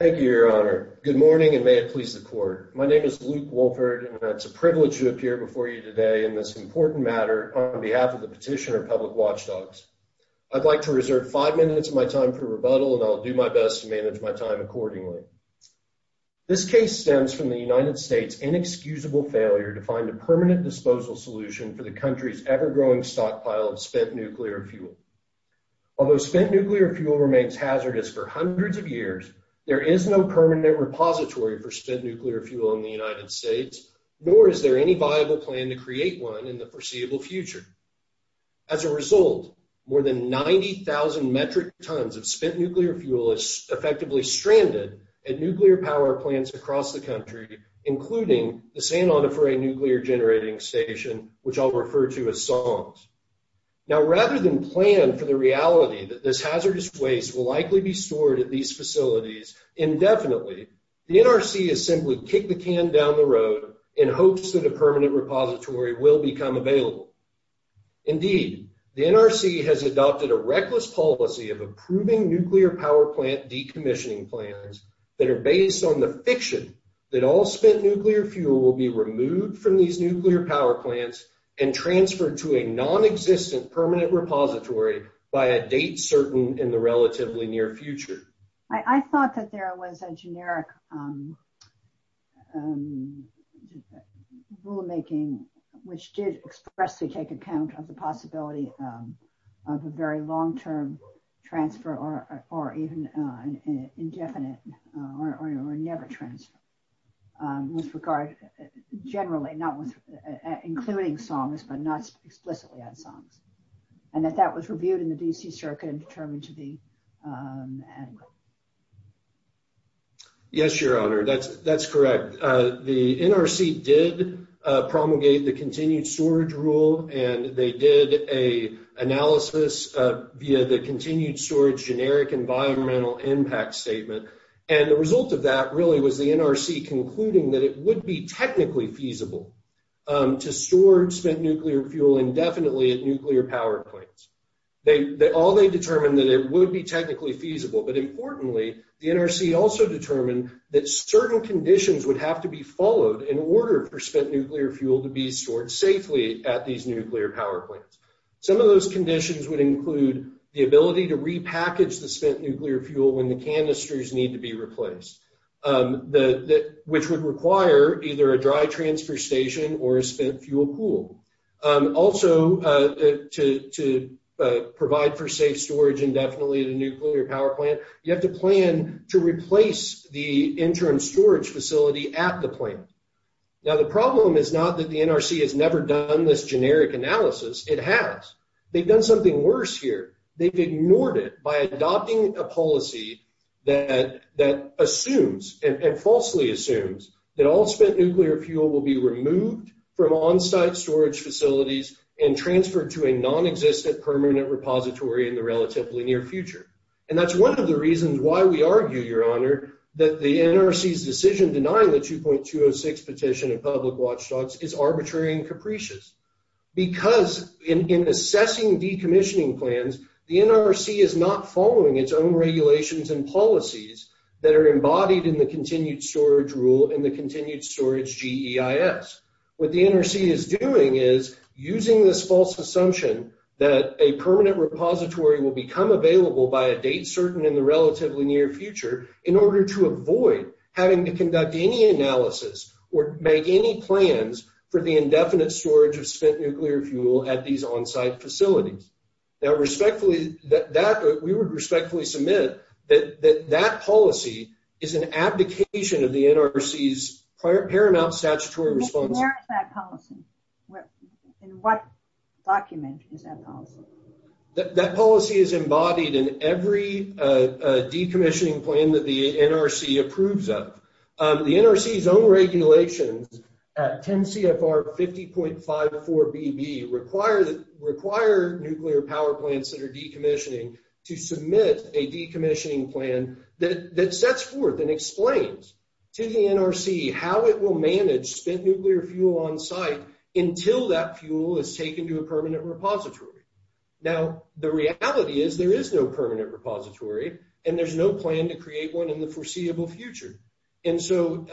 Thank you, Your Honor. Good morning, and may it please the court. My name is Luke Wolford, and it's a privilege to appear before you today in this important matter on behalf of the Petitioner Public Watchdogs. I'd like to reserve five minutes of my time for rebuttal, and I'll do my best to manage my time accordingly. This case stems from the United States inexcusable failure to find a permanent disposal solution for the country's ever-growing stockpile of spent nuclear fuel. Although spent nuclear fuel remains hazardous for hundreds of years, there is no permanent repository for spent nuclear fuel in the United States, nor is there any viable plan to create one in the foreseeable future. As a result, more than 90,000 metric tons of spent nuclear fuel is effectively stranded at nuclear power plants across the country, including the San Onofre Nuclear Generating Station, which I'll refer to as SONGS. Now, rather than plan for the reality that this hazardous waste will likely be stored at these facilities indefinitely, the NRC has simply kicked the can down the road in hopes that a permanent repository will become available. Indeed, the NRC has adopted a reckless policy of approving nuclear power plant decommissioning that are based on the fiction that all spent nuclear fuel will be removed from these nuclear power plants and transferred to a non-existent permanent repository by a date certain in the relatively near future. I thought that there was a generic rulemaking which did expressly take account of the possibility of a very long-term transfer or even an indefinite or never transfer with regard, generally, not with including SONGS but not explicitly on SONGS, and that that was reviewed in the D.C. Circuit and determined to be adequate. Yes, Your Honor, that's correct. The NRC did promulgate the continued storage rule, and they did an analysis via the continued storage generic environmental impact statement, and the result of that really was the NRC concluding that it would be technically feasible to store spent nuclear fuel indefinitely at nuclear power plants. All they determined that it would be technically feasible, but importantly, the NRC also determined that certain conditions would have to be followed in order for spent nuclear fuel to be stored safely at these nuclear power plants. Some of those conditions would include the ability to repackage the spent nuclear fuel when the canisters need to be replaced, which would require either a dry storage indefinitely at a nuclear power plant. You have to plan to replace the interim storage facility at the plant. Now, the problem is not that the NRC has never done this generic analysis. It has. They've done something worse here. They've ignored it by adopting a policy that assumes and falsely assumes that all spent nuclear fuel will be removed from on-site storage facilities and transferred to a non-existent permanent repository in the relatively near future, and that's one of the reasons why we argue, your honor, that the NRC's decision denying the 2.206 petition of public watchdogs is arbitrary and capricious because in assessing decommissioning plans, the NRC is not following its own regulations and policies that are embodied in the continued storage GEIS. What the NRC is doing is using this false assumption that a permanent repository will become available by a date certain in the relatively near future in order to avoid having to conduct any analysis or make any plans for the indefinite storage of spent nuclear fuel at these on-site facilities. Now, respectfully, we would respectfully submit that that policy is an abdication of the NRC's paramount statutory response. Where is that policy? In what document is that policy? That policy is embodied in every decommissioning plan that the NRC approves of. The NRC's own regulations, 10 CFR 50.54 BB, require nuclear power plants that are decommissioning to submit a decommissioning plan that sets forth and explains to the NRC how it will manage spent nuclear fuel on-site until that fuel is taken to a permanent repository. Now, the reality is there is no permanent repository and there's no plan to create one in the foreseeable future. And so,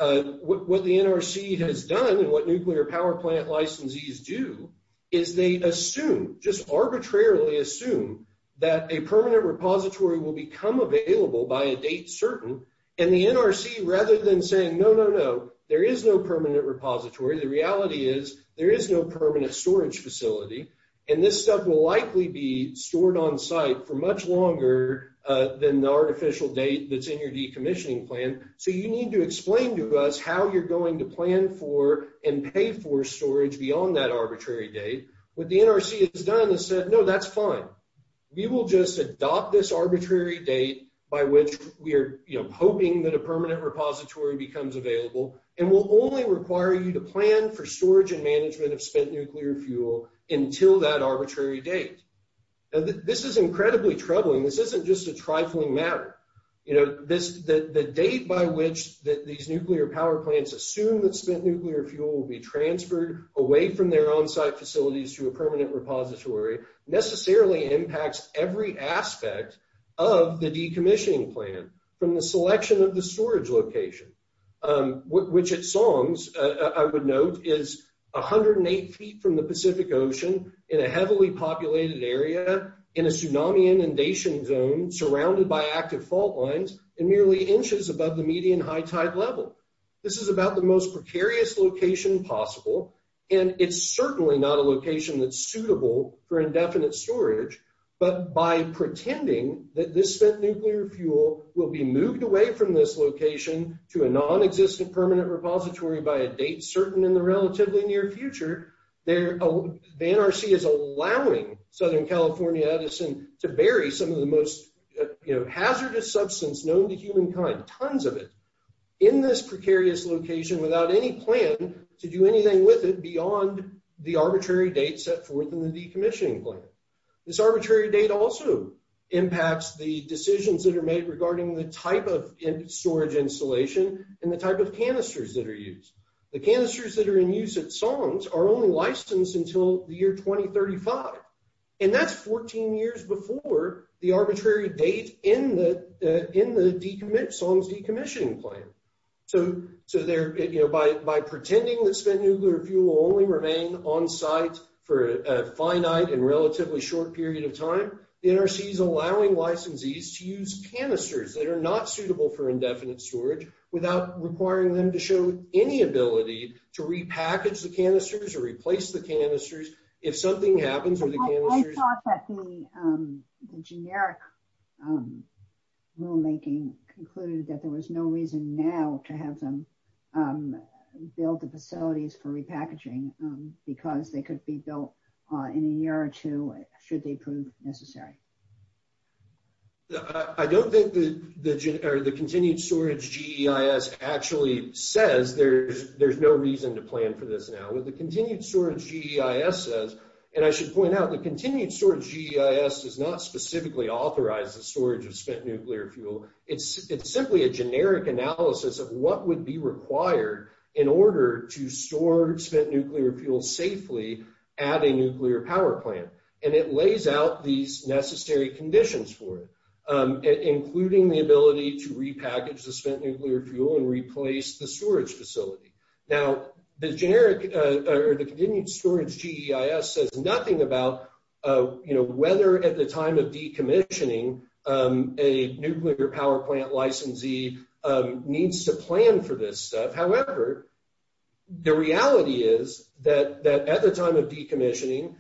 what the NRC has done and what nuclear power plant licensees do is they assume, just arbitrarily assume, that a permanent repository will become available by a date certain. And the NRC, rather than saying, no, no, no, there is no permanent repository, the reality is there is no permanent storage facility. And this stuff will likely be stored on-site for much longer than the artificial date that's in your decommissioning plan. So, you need to explain to us how you're going to plan for and pay for storage beyond that arbitrary date. What the NRC has done is said, no, that's fine. We will just adopt this arbitrary date by which we are, you know, hoping that a permanent repository becomes available and will only require you to plan for storage and management of spent nuclear fuel until that arbitrary date. This is incredibly troubling. This isn't just a trifling matter. You know, this, the date by which these nuclear power plants assume that spent nuclear fuel will be transferred away from their on-site facilities to a permanent repository necessarily impacts every aspect of the decommissioning plan from the selection of the storage location, which at Song's, I would note, is 108 feet from the Pacific Ocean in a heavily populated area in a tsunami inundation zone surrounded by active fault lines and merely inches above the median high tide level. This is about the most precarious location possible. And it's certainly not a location that's suitable for indefinite storage, but by pretending that this spent nuclear fuel will be moved away from this location to a non-existent permanent repository by a date certain in the relatively near future, the NRC is allowing Southern California Edison to bury some of the most, you know, hazardous substance known to humankind, tons of it, in this precarious location without any plan to do anything with it beyond the arbitrary date set forth in the decommissioning plan. This arbitrary date also impacts the decisions that are made regarding the type of storage installation and the type of canisters that are used. The canisters that are in use at Song's are only licensed until the year 2035. And that's 14 years before the arbitrary date in the Song's decommissioning plan. So, you know, by pretending that spent nuclear fuel will only remain on site for a finite and relatively short period of time, the NRC is allowing licensees to use canisters that are not suitable for indefinite storage without requiring them to show any ability to repackage the canisters or replace the canisters if something happens. The generic rulemaking concluded that there was no reason now to have them build the facilities for repackaging because they could be built in a year or two should they prove necessary. I don't think the continued storage GEIS actually says there's no reason to plan for this now. What the continued storage GEIS says, and I should point out, the continued storage GEIS does not specifically authorize the storage of spent nuclear fuel. It's simply a generic analysis of what would be required in order to store spent nuclear fuel safely at a nuclear power plant. And it lays out these necessary conditions for it, including the ability to repackage the spent nuclear fuel and replace the storage facility. Now, the generic or the continued storage GEIS says nothing about, you know, whether at the time of decommissioning, a nuclear power plant licensee needs to plan for this stuff. However, the reality is that at the time of decommissioning,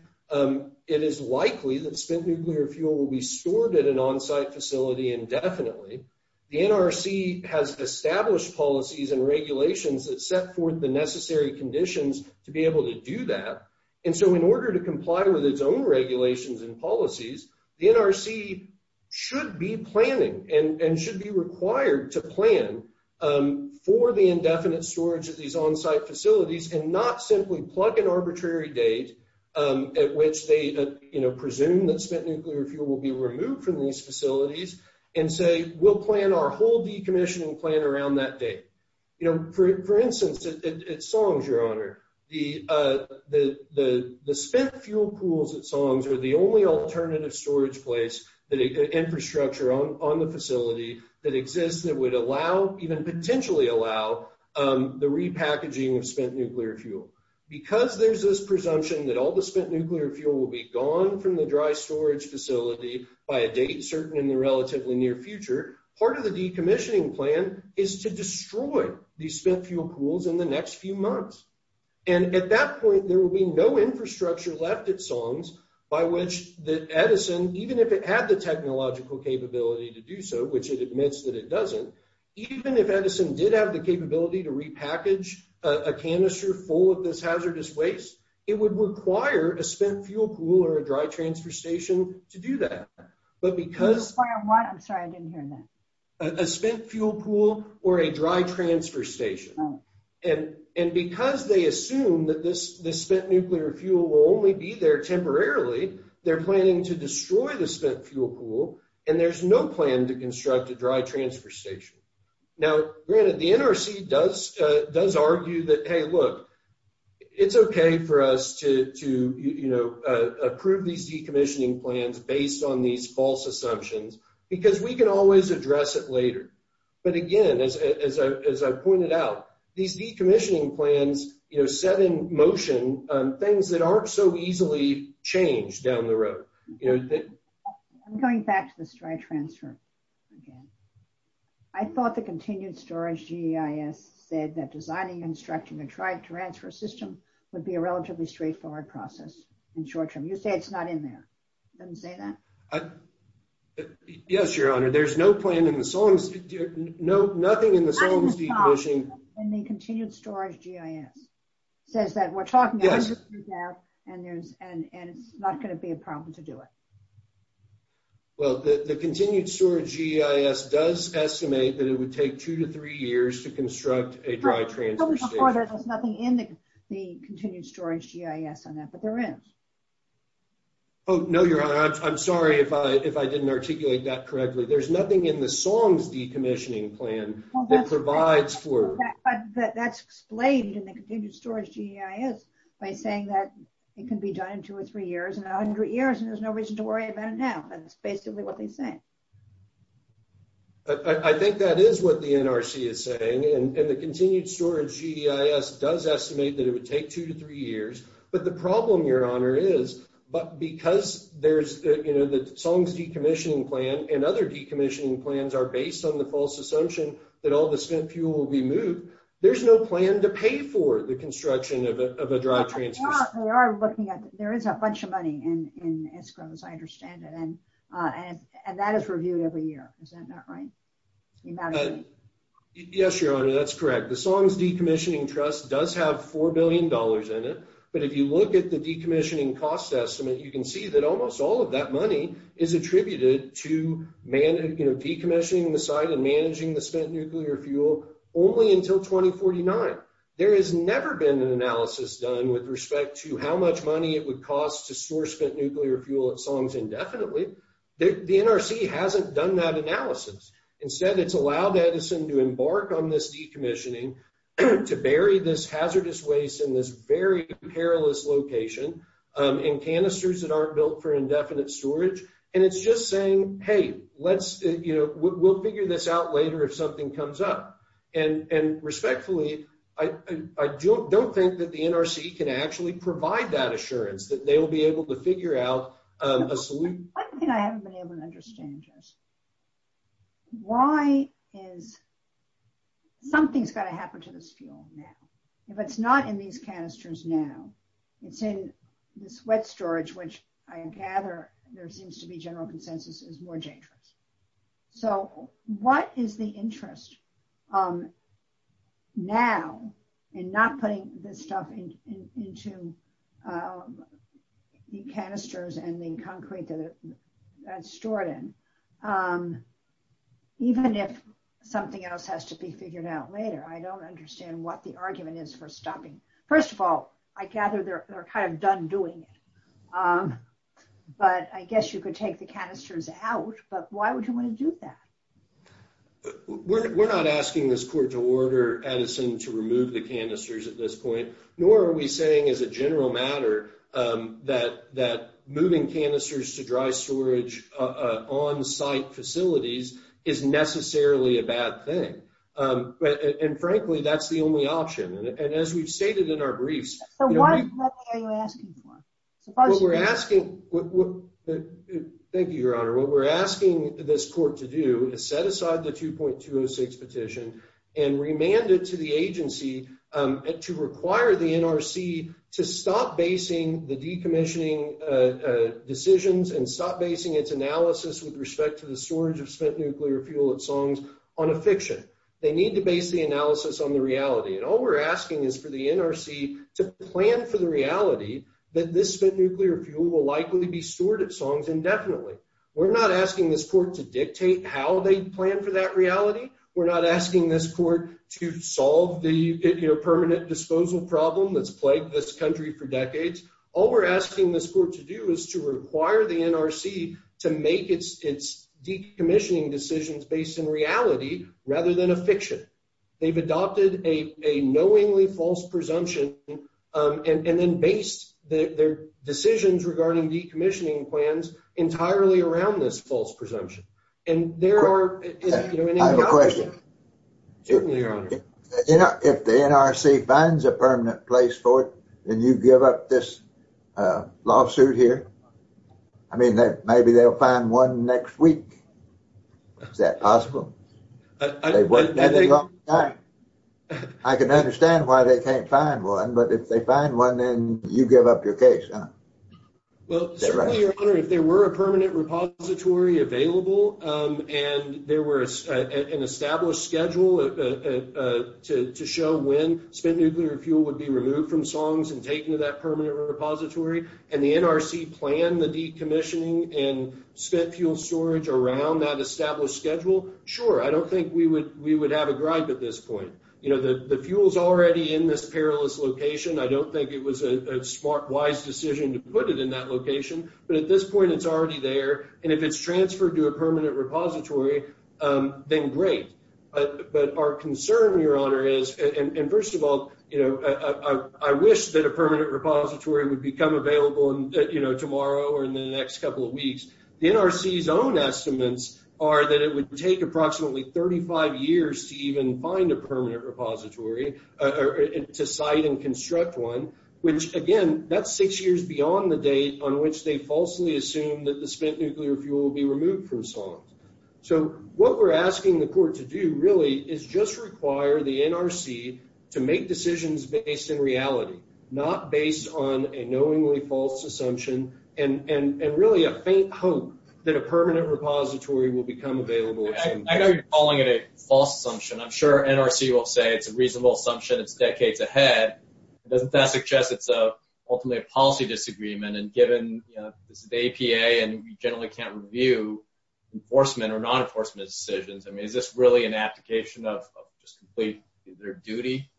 it is likely that spent nuclear fuel will be stored at an on-site facility indefinitely. The NRC has established policies and regulations that set forth the necessary conditions to be able to do that. And so in order to comply with its own regulations and policies, the NRC should be planning and should be required to plan for the indefinite storage of these on-site facilities and not simply plug an arbitrary date at which they, you know, presume that spent nuclear fuel will be removed from these facilities and say, we'll plan our whole decommissioning plan around that date. You know, for instance, at Songs, Your Honor, the spent fuel pools at Songs are the only alternative storage place that infrastructure on the facility that exists that would allow, even potentially allow, the repackaging of spent nuclear fuel. Because there's this presumption that all the spent nuclear fuel will be gone from the dry storage facility by a date certain in the relatively near future, part of the decommissioning plan is to destroy these spent fuel pools in the next few months. And at that point, there will be no infrastructure left at Songs by which Edison, even if it had the technological capability to do so, which it admits that it doesn't, even if Edison did have the capability to repackage a canister full of this hazardous waste, it would require a spent fuel pool or a dry transfer station to do that. But because... Require what? I'm sorry, I didn't hear that. A spent fuel pool or a dry transfer station. And because they assume that this spent nuclear fuel will only be there temporarily, they're planning to destroy the spent fuel pool and there's no plan to construct a dry transfer station. Now, granted, the NRC does argue that, hey, look, it's okay for us to approve these decommissioning plans based on these false assumptions, because we can always address it later. But again, as I pointed out, these decommissioning plans set in motion things that aren't so easily changed down the road. I'm going back to the dry transfer again. I thought the Continued Storage GIS said that designing, constructing a dry transfer system would be a relatively straightforward process in short term. You say it's not in there. You didn't say that? Yes, Your Honor. There's no plan in the Songs... Nothing in the Songs decommissioning... And the Continued Storage GIS says that we're talking about... And it's not going to be a problem to do it. Well, the Continued Storage GIS does estimate that it would take two to three years to construct a dry transfer station. There's nothing in the Continued Storage GIS on that, but there is. Oh, no, Your Honor. I'm sorry if I didn't articulate that correctly. There's nothing in the Songs decommissioning plan that provides for... That's explained in the Continued Storage GIS by saying that it can be done in two or three years. In 100 years, there's no reason to worry about it now. That's basically what they're saying. I think that is what the NRC is saying. And the Continued Storage GIS does estimate that it would take two to three years. But the problem, Your Honor, is because there's... The Songs decommissioning plan and other decommissioning plans are based on the false assumption that all the spent fuel will be moved. There's no plan to pay for the construction of a dry transfer station. We are looking at... There is a bunch of money in escrows, I understand it. And that is reviewed every year. Is that not right? Yes, Your Honor. That's correct. The Songs decommissioning trust does have $4 billion in it. But if you look at the decommissioning cost estimate, you can see that almost all of that money is attributed to decommissioning the site and managing the spent fuel only until 2049. There has never been an analysis done with respect to how much money it would cost to store spent nuclear fuel at Songs indefinitely. The NRC hasn't done that analysis. Instead, it's allowed Edison to embark on this decommissioning to bury this hazardous waste in this very perilous location in canisters that aren't built for indefinite storage. And it's just saying, hey, we'll figure this out later if something comes up. And respectfully, I don't think that the NRC can actually provide that assurance that they will be able to figure out a solution. One thing I haven't been able to understand, just why is something's got to happen to this fuel now? If it's not in these canisters now, it's in this wet storage, which I gather there seems to be general consensus is more dangerous. So what is the interest now in not putting this stuff into the canisters and the concrete that it's stored in? Even if something else has to be figured out later, I don't understand what the argument is for stopping. First of all, I gather they're kind of done doing it. But I guess you could take the canisters out, but why would you want to do that? We're not asking this court to order Edison to remove the canisters at this point, nor are we saying as a general matter that moving canisters to dry storage on-site facilities is necessarily a bad thing. And frankly, that's the only option. And as we've stated in our briefs... So what are you asking for? Thank you, Your Honor. What we're asking this court to do is set aside the 2.206 petition and remand it to the agency to require the NRC to stop basing the decommissioning decisions and stop basing its analysis with respect to the storage of spent nuclear fuel at They need to base the analysis on the reality. And all we're asking is for the NRC to plan for the reality that this spent nuclear fuel will likely be stored at Songs indefinitely. We're not asking this court to dictate how they plan for that reality. We're not asking this court to solve the permanent disposal problem that's plagued this country for decades. All we're asking this court to do is to require the NRC to make its decommissioning decisions based in reality rather than a fiction. They've adopted a knowingly false presumption and then based their decisions regarding decommissioning plans entirely around this false presumption. And there are... I have a question. Certainly, Your Honor. If the NRC finds a permanent place for it, then you give up this lawsuit here? I mean, maybe they'll find one next week. Is that possible? I can understand why they can't find one, but if they find one, then you give up your case, huh? Well, certainly, Your Honor, if there were a permanent repository available, and there was an established schedule to show when spent nuclear fuel would be removed from and the NRC planned the decommissioning and spent fuel storage around that established schedule, sure. I don't think we would have a gripe at this point. The fuel's already in this perilous location. I don't think it was a smart, wise decision to put it in that location, but at this point, it's already there. And if it's transferred to a permanent repository, then great. But our concern, Your Honor, is... And first of all, I wish that a permanent repository would become available tomorrow or in the next couple of weeks. The NRC's own estimates are that it would take approximately 35 years to even find a permanent repository, to site and construct one, which again, that's six years beyond the date on which they falsely assume that the spent nuclear fuel will be removed from SOMS. So what we're asking the court to do is just require the NRC to make decisions based in reality, not based on a knowingly false assumption and really a faint hope that a permanent repository will become available. I know you're calling it a false assumption. I'm sure NRC will say it's a reasonable assumption. It's decades ahead. It doesn't suggest it's ultimately a policy disagreement. And given this is the APA and we generally can't review enforcement or non-enforcement decisions, is this really an abdication of their duty?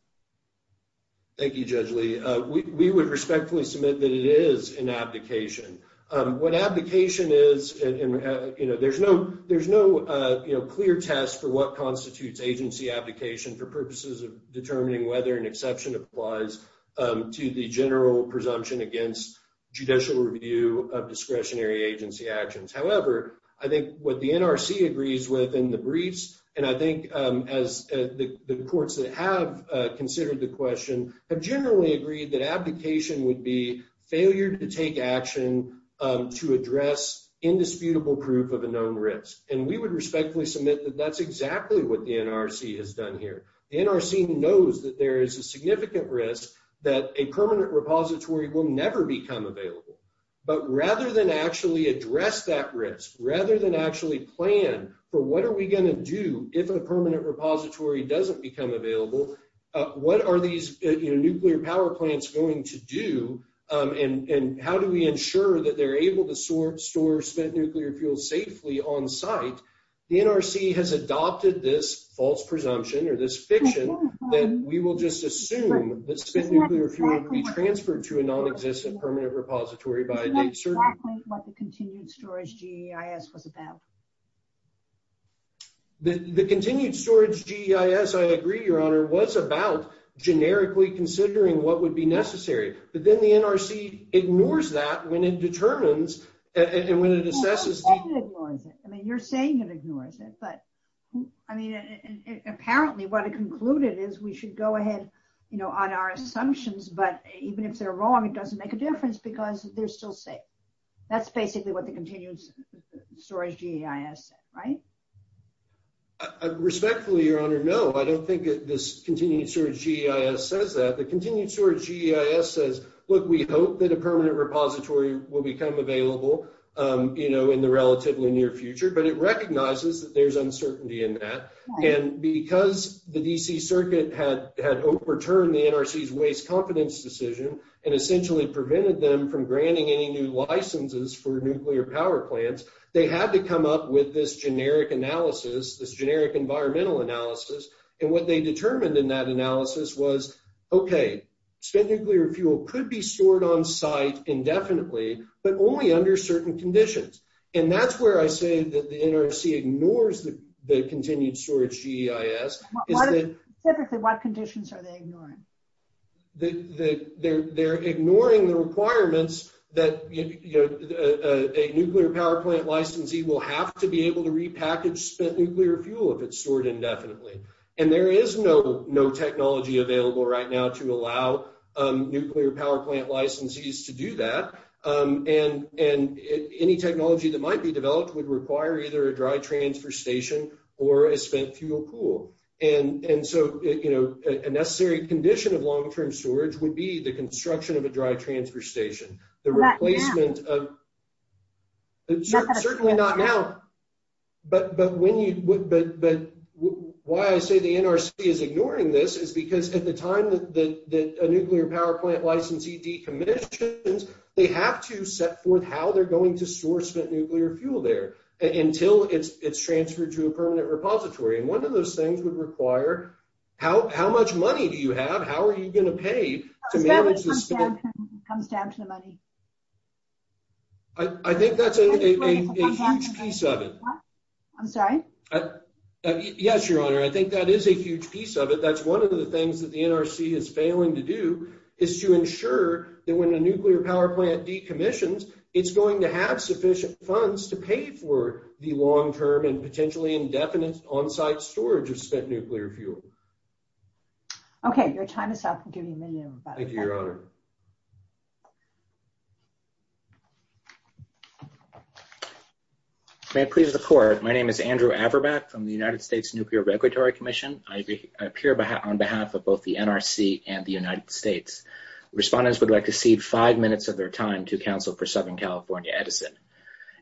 Thank you, Judge Lee. We would respectfully submit that it is an abdication. What abdication is, there's no clear test for what constitutes agency abdication for purposes of determining whether an exception applies to the general presumption against judicial review of discretionary agency actions. However, I think what the NRC agrees with in the briefs, and I think as the courts that have considered the question have generally agreed that abdication would be failure to take action to address indisputable proof of a known risk. And we would respectfully submit that that's exactly what the NRC has done here. The NRC knows that there is a significant risk that a permanent repository will never become available. But rather than actually address that risk, rather than actually plan for what are we going to do if a permanent repository doesn't become available, what are these nuclear power plants going to do? And how do we ensure that they're able to store spent nuclear fuel safely on site? The NRC has adopted this false presumption or this fiction that we will just assume that spent nuclear fuel will be transferred to a non-existent permanent repository by a date certain. That's exactly what the continued storage GEIS was about. The continued storage GEIS, I agree, Your Honor, was about generically considering what would be necessary. But then the NRC ignores that when it determines and when it assesses. I mean, you're saying it ignores it, but I mean, apparently what it concluded is we should go ahead, you know, on our assumptions. But even if they're wrong, it doesn't make a difference because they're still safe. That's basically what the continued storage GEIS said, right? Respectfully, Your Honor, no, I don't think this continued storage GEIS says that. The continued storage GEIS says, look, we hope that a permanent repository will become available, you know, in the relatively near future. But it recognizes that there's uncertainty in that. And because the D.C. Circuit had overturned the NRC's waste confidence decision and essentially prevented them from granting any new licenses for nuclear power plants, they had to come up with this generic analysis, this generic environmental analysis. And what they determined in that analysis was, OK, spent nuclear fuel could be stored on site indefinitely, but only under certain conditions. And that's where I say that the NRC ignores the continued storage GEIS. Typically, what conditions are they ignoring? They're ignoring the requirements that a nuclear power plant licensee will have to be able to repackage spent nuclear fuel if it's stored indefinitely. And there is no technology available right now to allow nuclear power plant licensees to do that. And any technology that fuel pool. And so, you know, a necessary condition of long term storage would be the construction of a dry transfer station, the replacement of. Certainly not now, but when you but why I say the NRC is ignoring this is because at the time that a nuclear power plant licensee decommissions, they have to set forth how they're going to source that nuclear fuel there until it's transferred to permanent repository. And one of those things would require how how much money do you have? How are you going to pay to manage this comes down to the money? I think that's a piece of it. I'm sorry. Yes, your honor. I think that is a huge piece of it. That's one of the things that the NRC is failing to do is to ensure that when a nuclear power plant decommissions, it's going to have sufficient funds to pay for the long term and potentially indefinite on-site storage of spent nuclear fuel. Okay, your time is up. Thank you, your honor. May it please the court. My name is Andrew Averbach from the United States Nuclear Regulatory Commission. I appear on behalf of both the NRC and the United States. Respondents would like to cede five minutes of their time to counsel for Southern California Edison.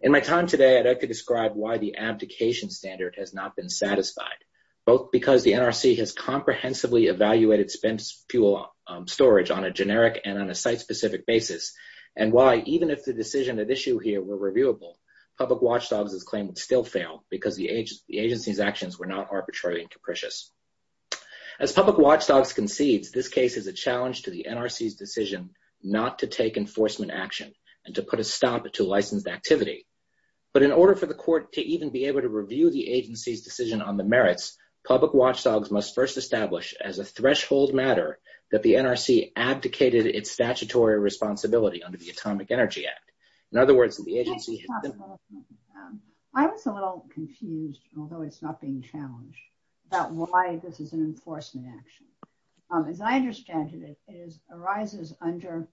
In my time today, I'd like to describe why the abdication standard has not been satisfied, both because the NRC has comprehensively evaluated spent fuel storage on a generic and on a site-specific basis, and why even if the decision at issue here were reviewable, Public Watchdogs' claim would still fail because the agency's actions were not arbitrary and decision not to take enforcement action and to put a stop to licensed activity. But in order for the court to even be able to review the agency's decision on the merits, Public Watchdogs must first establish as a threshold matter that the NRC abdicated its statutory responsibility under the Atomic Energy Act. In other words, the agency... I was a little confused, although it's arises under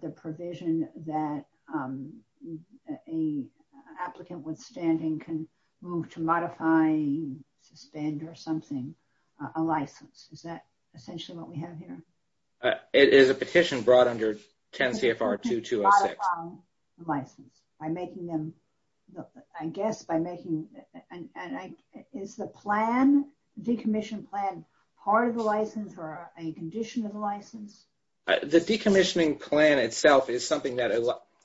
the provision that an applicant withstanding can move to modify, suspend or something a license. Is that essentially what we have here? It is a petition brought under 10 CFR 2206. By making them... I guess by making... Is the plan, decommissioned plan, part of the license or a condition of the license? The decommissioning plan itself is something that...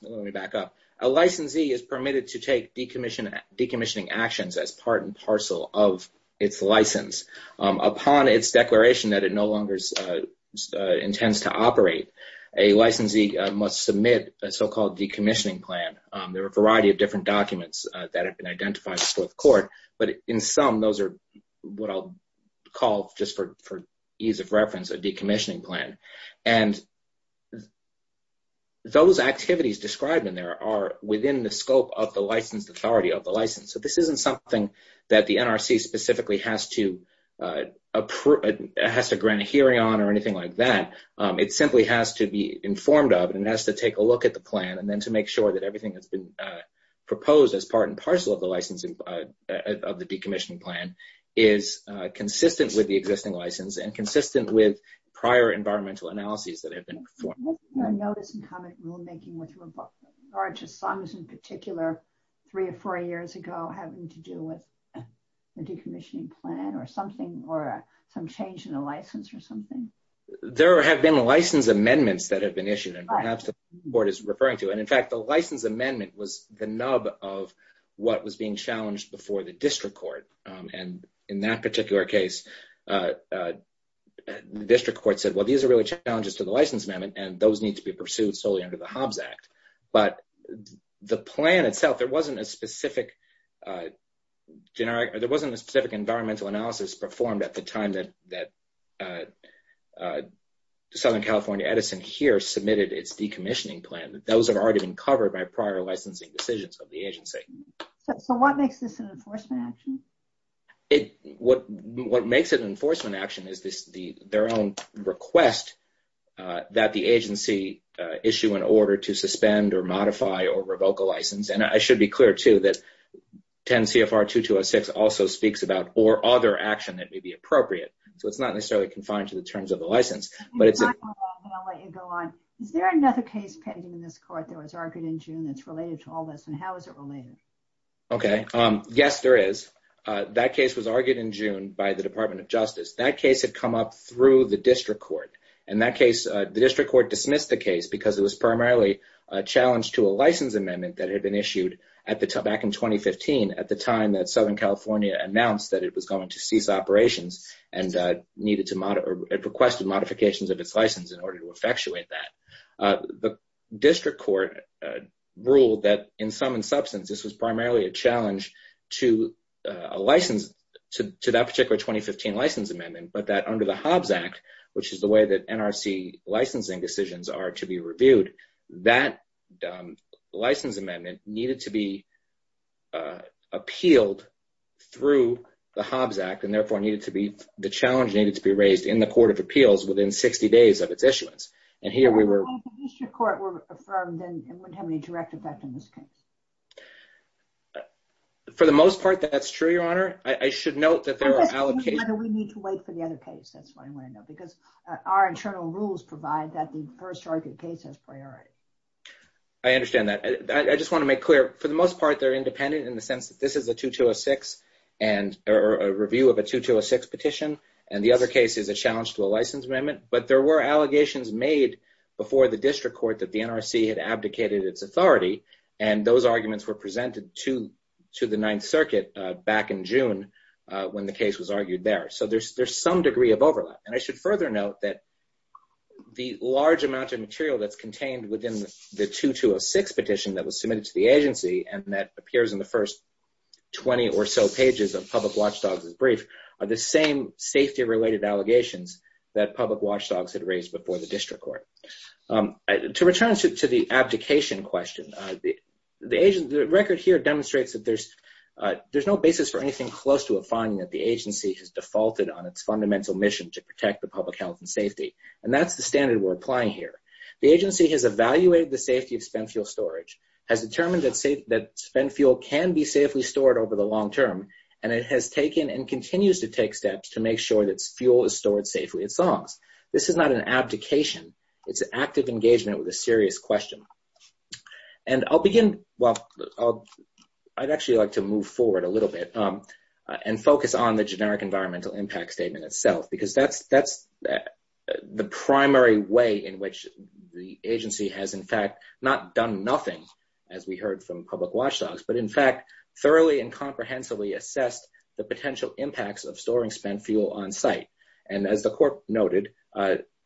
Let me back up. A licensee is permitted to take decommissioning actions as part and parcel of its license. Upon its declaration that it no longer intends to operate, a licensee must submit a so-called decommissioning plan. There are a variety of different documents that have been identified before the court, but in some, those are what I'll call, just for ease of reference, a decommissioning plan. Those activities described in there are within the scope of the licensed authority of the license. This isn't something that the NRC specifically has to grant a hearing on or anything like that. It simply has to be informed of and has to take a look at the plan and then to make sure everything that's been proposed as part and parcel of the decommissioning plan is consistent with the existing license and consistent with prior environmental analyses that have been performed. What's the notice and comment rulemaking with regard to SOMS in particular, three or four years ago, having to do with a decommissioning plan or something or some change in a license or something? There have been license amendments that have been issued and perhaps the court is was the nub of what was being challenged before the district court. In that particular case, the district court said, well, these are really challenges to the license amendment and those need to be pursued solely under the Hobbs Act. But the plan itself, there wasn't a specific environmental analysis performed at the time that Southern California Edison here submitted its decommissioning plan. Those have already been covered by prior licensing decisions of the agency. So what makes this an enforcement action? What makes it an enforcement action is their own request that the agency issue an order to suspend or modify or revoke a license. And I should be clear too that 10 CFR 2206 also speaks about or other action that may be appropriate. So it's not necessarily confined to the terms of the license, but it's is there another case pending in this court that was argued in June that's related to all this and how is it related? Okay. Yes, there is. That case was argued in June by the department of justice. That case had come up through the district court and that case, the district court dismissed the case because it was primarily a challenge to a license amendment that had been issued at the back in 2015 at the time that Southern California announced that it was going to cease operations and needed to modify or requested modifications of its license in order to effectuate that. The district court ruled that in sum and substance, this was primarily a challenge to a license to that particular 2015 license amendment, but that under the Hobbs Act, which is the way that NRC licensing decisions are to be reviewed, that license amendment needed to be appealed through the Hobbs Act and therefore needed to be, the challenge needed to be raised in the court of appeals within 60 days of its issuance. And here we were. For the most part, that's true, your honor. I should note that there are allocations. We need to wait for the other case. That's what I want to know because our internal rules provide that the first argued case has priority. I understand that. I just want to make clear, for the most part, they're independent in the sense that this is a 2206 and a review of a 2206 petition. And the other case is a challenge to a license amendment. But there were allegations made before the district court that the NRC had abdicated its authority. And those arguments were presented to the Ninth Circuit back in June when the case was argued there. So there's some degree of overlap. And I should further note that the large amount of material that's contained within the 2206 petition that was submitted to the agency and that appears in the first 20 or so pages of Public Watchdogs' brief are the same safety-related allegations that Public Watchdogs had raised before the district court. To return to the abdication question, the record here demonstrates that there's no basis for anything close to a finding that the agency has defaulted on its fundamental mission to protect public health and safety. And that's the standard we're applying here. The agency has evaluated the safety of spent fuel storage, has determined that spent fuel can be safely stored over the long term, and it has taken and continues to take steps to make sure that fuel is stored safely at songs. This is not an abdication. It's an active engagement with a serious question. And I'll begin, well, I'd actually like to move forward a little bit and focus on the generic environmental impact statement itself, because that's the primary way in which the agency has, in fact, not done nothing, as we heard from Public Watchdogs, but in fact, thoroughly and comprehensively assessed the potential impacts of storing spent fuel on site. And as the court noted,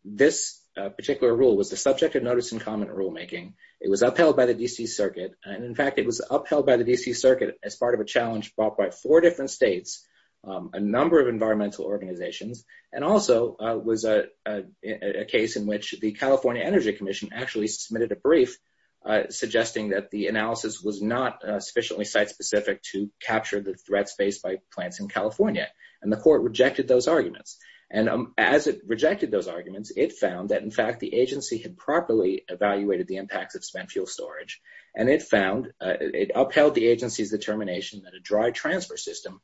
this particular rule was the subject of notice and comment rulemaking. It was upheld by the D.C. Circuit. And in fact, it was upheld by the D.C. Circuit as part of a number of environmental organizations and also was a case in which the California Energy Commission actually submitted a brief suggesting that the analysis was not sufficiently site specific to capture the threats faced by plants in California. And the court rejected those arguments. And as it rejected those arguments, it found that, in fact, the agency had properly evaluated the impacts of spent fuel storage. And it found it upheld the agency's determination that a dry transfer system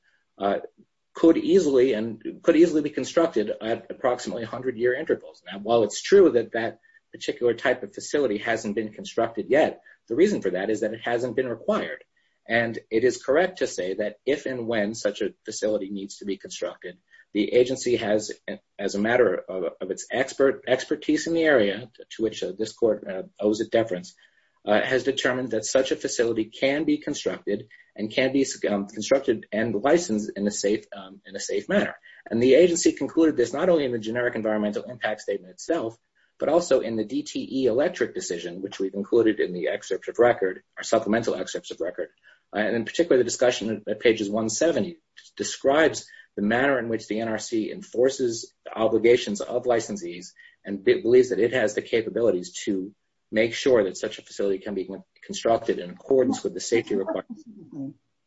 could easily and could easily be constructed at approximately 100 year intervals. Now, while it's true that that particular type of facility hasn't been constructed yet, the reason for that is that it hasn't been required. And it is correct to say that if and when such a facility needs to be constructed, the agency has, as a matter of its expertise in the area, to which this court owes a deference, has determined that such a facility can be constructed and can be constructed and licensed in a safe manner. And the agency concluded this not only in the generic environmental impact statement itself, but also in the DTE electric decision, which we've included in the excerpt of record, our supplemental excerpts of record. And in particular, the discussion at pages 170 describes the manner in which the NRC enforces the obligations of licensees and believes that it has the capabilities to make sure that such a facility can be constructed in accordance with the safety requirements.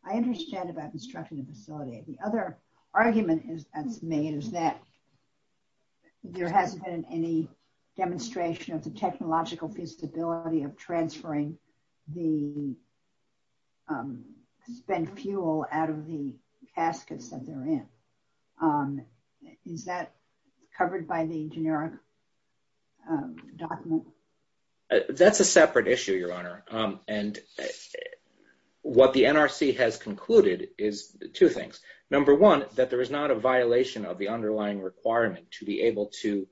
I understand about constructing a facility. The other argument that's made is that there hasn't been any demonstration of the technological feasibility of transferring the spent fuel out of the caskets that they're in. Is that covered by the generic document? That's a separate issue, Your Honor. And what the NRC has concluded is two things. Number one, that there is not a violation of the underlying requirement to be able to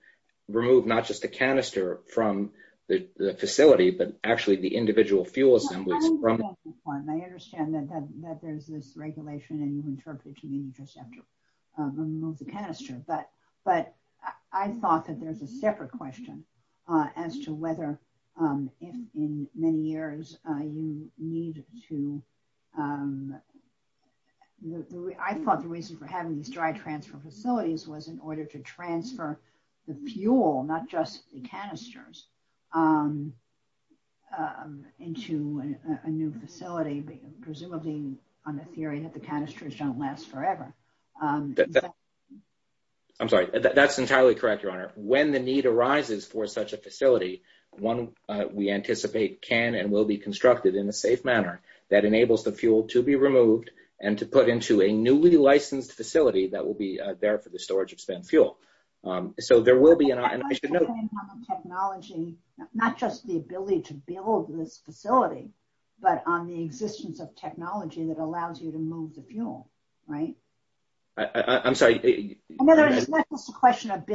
remove not just the canister from the facility, but actually the individual fuel assemblies. I understand that there's this regulation and you interpreted to me just after removing the weather in many years. I thought the reason for having these dry transfer facilities was in order to transfer the fuel, not just the canisters, into a new facility, presumably on the theory that the canisters don't last forever. I'm sorry, that's entirely correct, Your Honor. When the need arises for such a facility, one we anticipate can and will be constructed in a safe manner that enables the fuel to be removed and to put into a newly licensed facility that will be there for the storage of spent fuel. So there will be an option. Not just the ability to build this facility, but on the existence of technology that allows you to It's a question of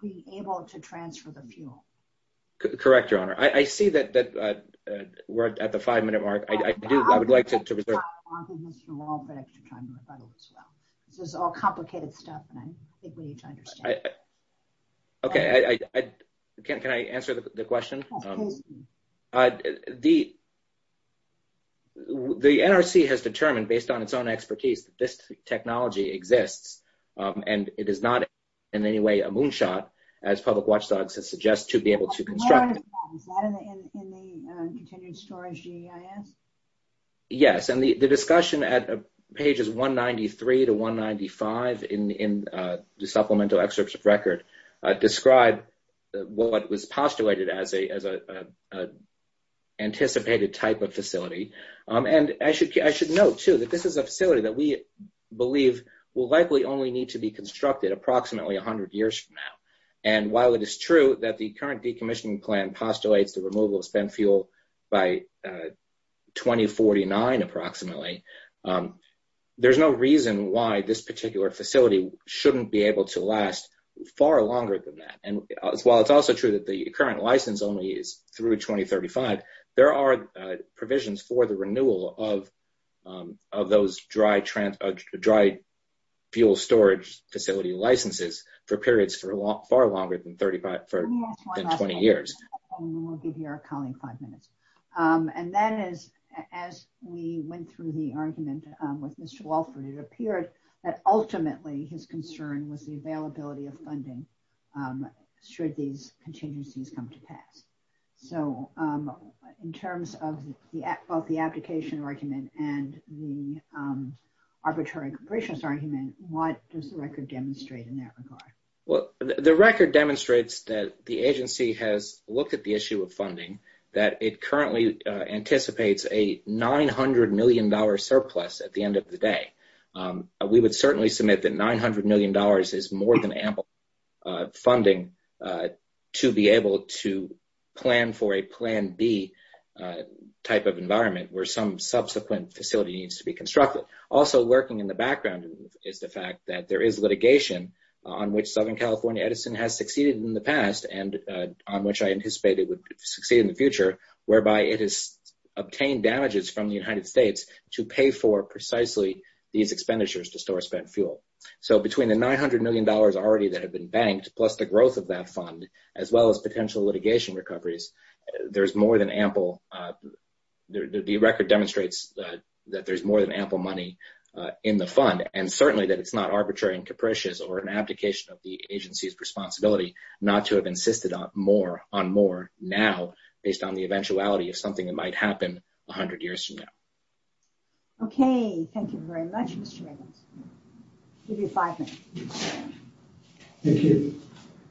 being able to transfer the fuel. Correct, Your Honor. I see that we're at the five-minute mark. I do. I would like to reserve This is all complicated stuff. Okay. Can I answer the question? The NRC has determined based on its own expertise that this technology exists and it is not in any way a moonshot, as Public Watchdog suggests, to be able to construct it. Yes, and the discussion at pages 193 to 195 in the supplemental excerpts of record describe what was postulated as an anticipated type of facility. I should note, too, that this is a facility that will only need to be constructed approximately 100 years from now. And while it is true that the current decommissioning plan postulates the removal of spent fuel by 2049, approximately, there's no reason why this particular facility shouldn't be able to last far longer than that. And while it's also true that the current license only is through 2035, there are provisions for the renewal of those dry fuel storage facility licenses for periods far longer than 20 years. We'll give your colleague five minutes. And that is, as we went through the argument with Mr. Walford, it appeared that ultimately his concern was the availability of in terms of both the application argument and the arbitration argument. What does the record demonstrate in that regard? Well, the record demonstrates that the agency has looked at the issue of funding, that it currently anticipates a $900 million surplus at the end of the day. We would certainly submit that $900 million is more than ample funding to be able to plan for the type of environment where some subsequent facility needs to be constructed. Also working in the background is the fact that there is litigation on which Southern California Edison has succeeded in the past and on which I anticipate it would succeed in the future, whereby it has obtained damages from the United States to pay for precisely these expenditures to store spent fuel. So between the $900 million already that had been banked plus the growth of that fund, as well as potential litigation recoveries, the record demonstrates that there's more than ample money in the fund and certainly that it's not arbitrary and capricious or an abdication of the agency's responsibility not to have insisted on more now based on the eventuality of something that might happen 100 years from now. Okay. Thank you very much, Mr. Reynolds. I'll give you five minutes. Thank you.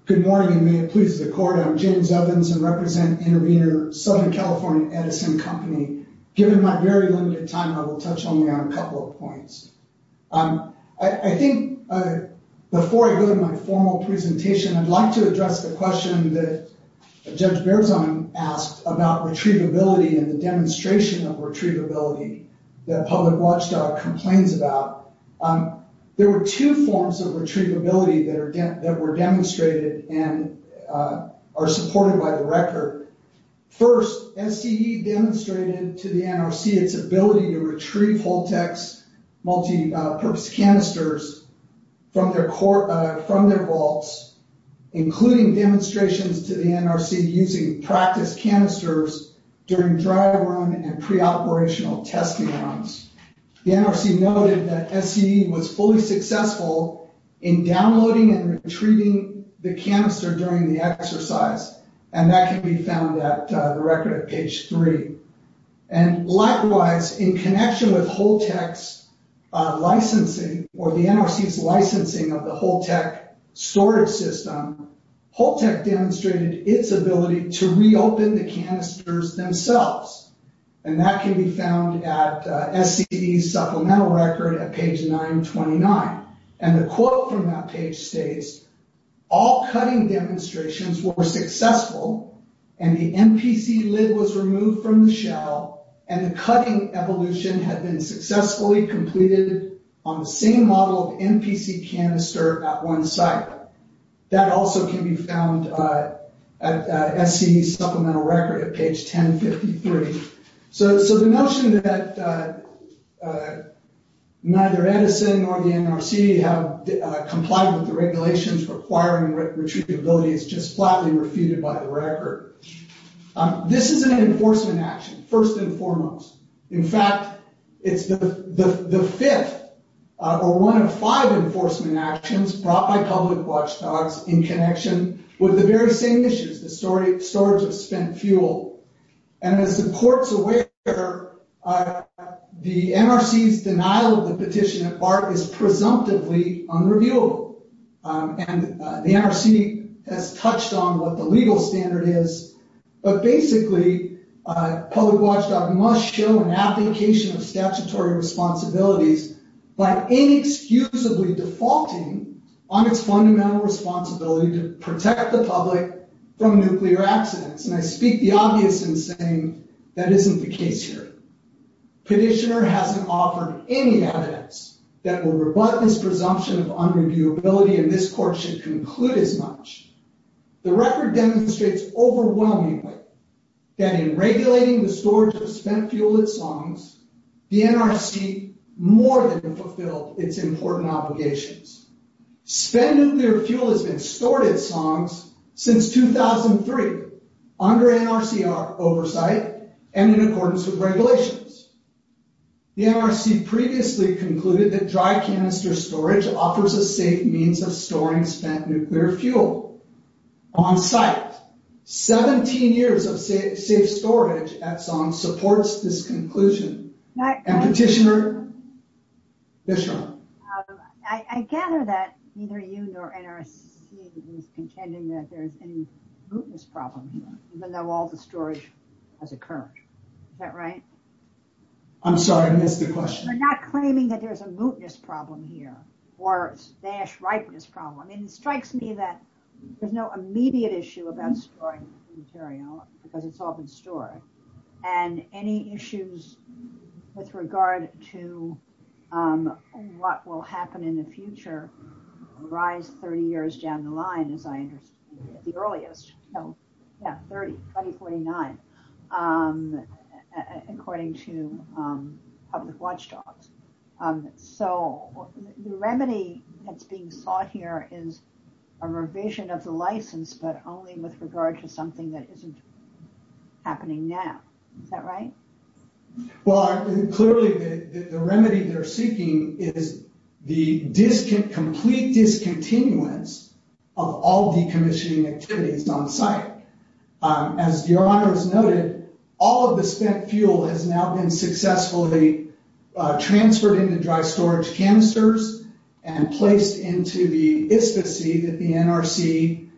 Good morning and may it please the court. I'm James Evans and represent intervener Southern California Edison Company. Given my very limited time, I will touch only on a couple of points. I think before I go to my formal presentation, I'd like to address the question that Judge Berzon asked about retrievability and the demonstration of retrievability that a public watchdog complains about. There were two forms of retrievability that were demonstrated and are supported by the record. First, SDE demonstrated to the NRC its ability to retrieve Holtex multipurpose canisters from their vaults, including demonstrations to the NRC using practice canisters during dry run and pre-operational testing runs. The NRC noted that SDE was fully successful in downloading and retrieving the canister during the exercise and that can be found at the record at page 3. And likewise, in connection with Holtex licensing or the NRC's licensing of Holtex storage system, Holtex demonstrated its ability to reopen the canisters themselves and that can be found at SDE supplemental record at page 929. And the quote from that page states, all cutting demonstrations were successful and the NPC lid was removed from the shell and the cutting evolution had been successfully completed on the same model of NPC canister at one site. That also can be found at SDE supplemental record at page 1053. So the notion that neither Edison nor the NRC have complied with the regulations requiring retrievability is just flatly refuted by the record. This is an enforcement action, first and foremost. In fact, it's the fifth or one of five enforcement actions brought by public watchdogs in connection with the very same issues, the storage of spent fuel. And as the courts aware, the NRC's denial of the petition at BART is presumptively unreviewable and the NRC has touched on what the legal standard is, but basically a public watchdog must show an application of statutory responsibilities by inexcusably defaulting on its fundamental responsibility to protect the public from nuclear accidents. And I speak the obvious in saying that isn't the case here. Petitioner hasn't offered any evidence that will rebut this challenge. The record demonstrates overwhelmingly that in regulating the storage of spent fuel at Songs, the NRC more than fulfilled its important obligations. Spent nuclear fuel has been stored at Songs since 2003 under NRC oversight and in accordance with regulations. The NRC previously concluded that dry canister storage offers a safe means of storing spent nuclear fuel on site. 17 years of safe storage at Songs supports this conclusion. And Petitioner? I gather that neither you nor NRC is contending that there's any mootness problem, even though all the storage has occurred. Is that right? I'm sorry, I missed the question. They're not claiming that there's a mootness problem here or stash ripeness problem. I mean, it strikes me that there's no immediate issue about storing material because it's all been stored. And any issues with regard to what will happen in the future rise 30 years down the line, as I understand it, at the earliest. Yeah, 30, 2049, according to public watchdogs. So the remedy that's being sought here is a revision of the license, but only with regard to something that isn't happening now. Is that right? Well, clearly the remedy they're seeking is the complete discontinuance of all decommissioning activities on site. As your honor has noted, all of the spent fuel has now been successfully transferred into dry storage canisters and placed into the ISPA-C that the NRC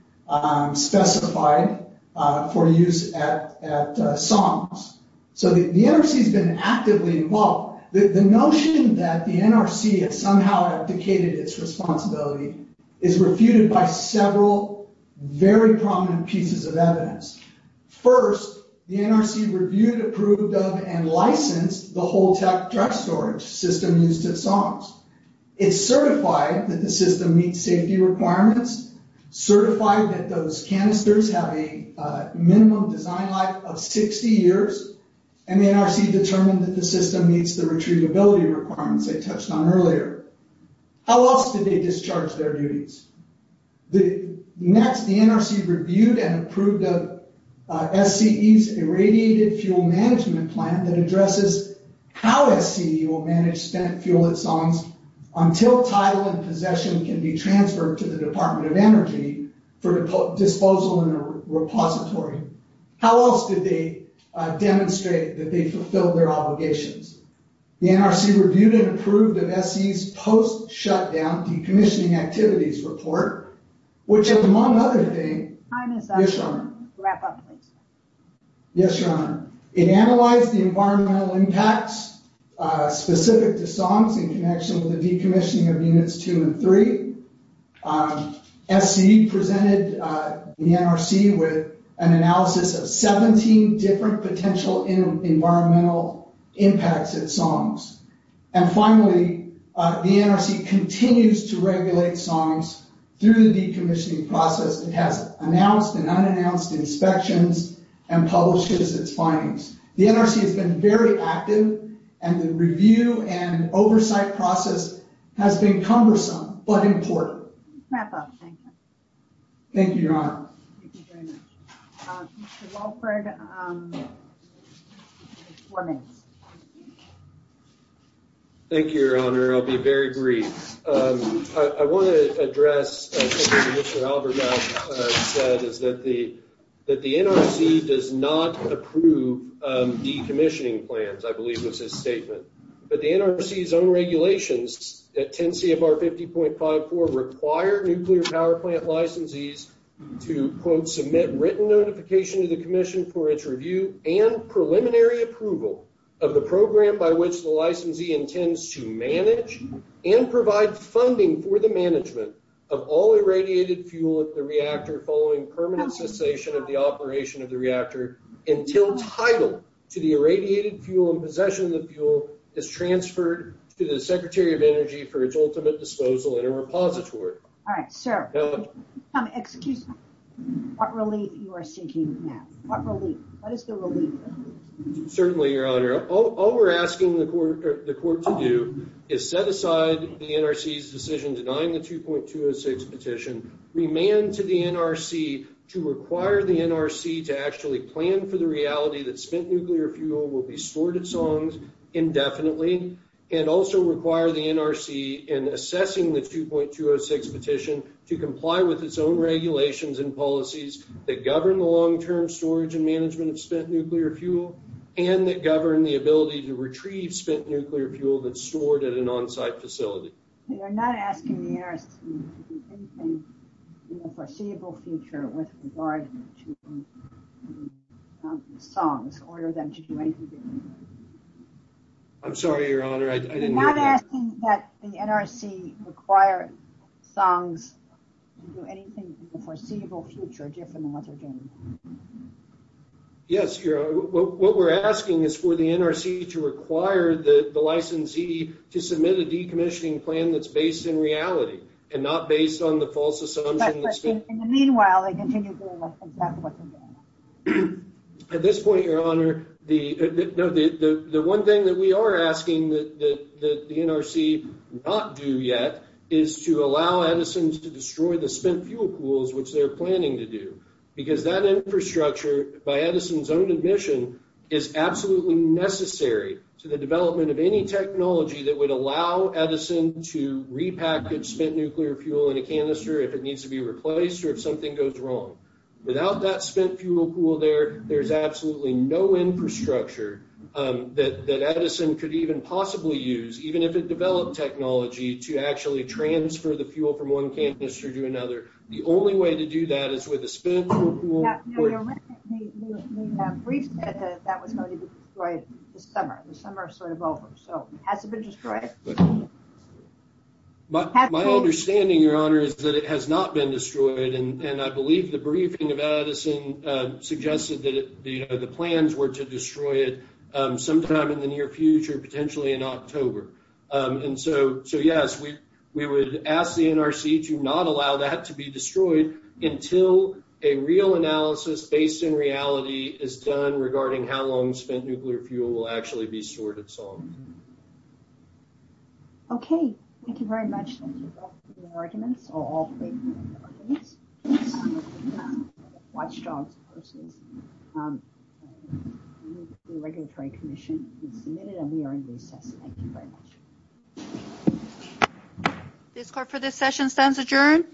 specified for use at SOMS. So the NRC has been actively involved. The notion that the NRC has somehow abdicated its responsibility is refuted by several very prominent pieces of evidence. First, the NRC reviewed, approved of, and licensed the whole tech dry storage system used at SOMS. It's certified that the system meets safety requirements, certified that those canisters have a minimum design life of 60 years, and the NRC determined that the system meets the retrievability requirements I touched on earlier. How else did they discharge their duties? Next, the NRC reviewed and approved of SCE's irradiated fuel management plan that addresses how SCE will manage spent fuel at SOMS until title and possession can be transferred to the Department of Energy for disposal in a repository. How else did they demonstrate that they fulfilled their obligations? The NRC reviewed and approved of SCE's post-shutdown decommissioning activities report, which among other things... Yes, Your Honor. It analyzed the environmental impacts specific to SOMS in connection with the decommissioning of Units 2 and 3. SCE presented the NRC with an analysis of 17 different potential environmental impacts at SOMS, and finally, the NRC continues to regulate SOMS through the decommissioning process. It has announced and unannounced inspections and publishes its findings. The NRC has been very active, and the review and oversight process has been cumbersome, but important. Thank you, Your Honor. Thank you very much. Mr. Walford, four minutes. Thank you, Your Honor. I'll be very brief. I want to address something Mr. Albert said, is that the NRC does not approve decommissioning plans, I believe was his statement, but the NRC's own regulations at 10 CFR 50.54 require nuclear power plant licensees to, quote, submit written notification to the commission for its review and preliminary approval of the program by which the licensee intends to manage and provide funding for the management of all irradiated fuel at the reactor following permanent cessation of the operation of reactor until title to the irradiated fuel and possession of the fuel is transferred to the Secretary of Energy for its ultimate disposal in a repository. All right, so, excuse me, what relief you are seeking now? What relief? What is the relief? Certainly, Your Honor, all we're asking the court to do is set aside the NRC's decision denying the 2.206 petition, remand to the NRC to require the NRC to actually plan for the reality that spent nuclear fuel will be stored at songs indefinitely and also require the NRC in assessing the 2.206 petition to comply with its own regulations and policies that govern the long-term storage and management of spent nuclear fuel and that govern the ability to retrieve spent nuclear fuel that's stored at an unforeseeable future with regard to songs, order them to do anything. I'm sorry, Your Honor, I didn't know that. You're not asking that the NRC require songs to do anything in the foreseeable future different than what they're doing? Yes, Your Honor, what we're asking is for the NRC to require the licensee to submit a decommissioning that's based in reality and not based on the false assumption. In the meanwhile, they continue to do exactly what they're doing. At this point, Your Honor, the one thing that we are asking that the NRC not do yet is to allow Edison to destroy the spent fuel pools, which they're planning to do, because that infrastructure by Edison's own admission is absolutely necessary to the development of any technology that would Edison to repackage spent nuclear fuel in a canister if it needs to be replaced or if something goes wrong. Without that spent fuel pool there, there's absolutely no infrastructure that Edison could even possibly use, even if it developed technology, to actually transfer the fuel from one canister to another. The only way to do that is with a spent fuel pool. No, Your Honor, the brief said that that was going to be destroyed this summer. The summer is sort of over, so it hasn't been destroyed. My understanding, Your Honor, is that it has not been destroyed, and I believe the briefing of Edison suggested that the plans were to destroy it sometime in the near future, potentially in October. So, yes, we would ask the NRC to not allow that to be destroyed until a real analysis based in reality is done regarding how long spent nuclear fuel will actually be sorted. Okay, thank you very much. Thank you for your arguments. This court for this session stands adjourned.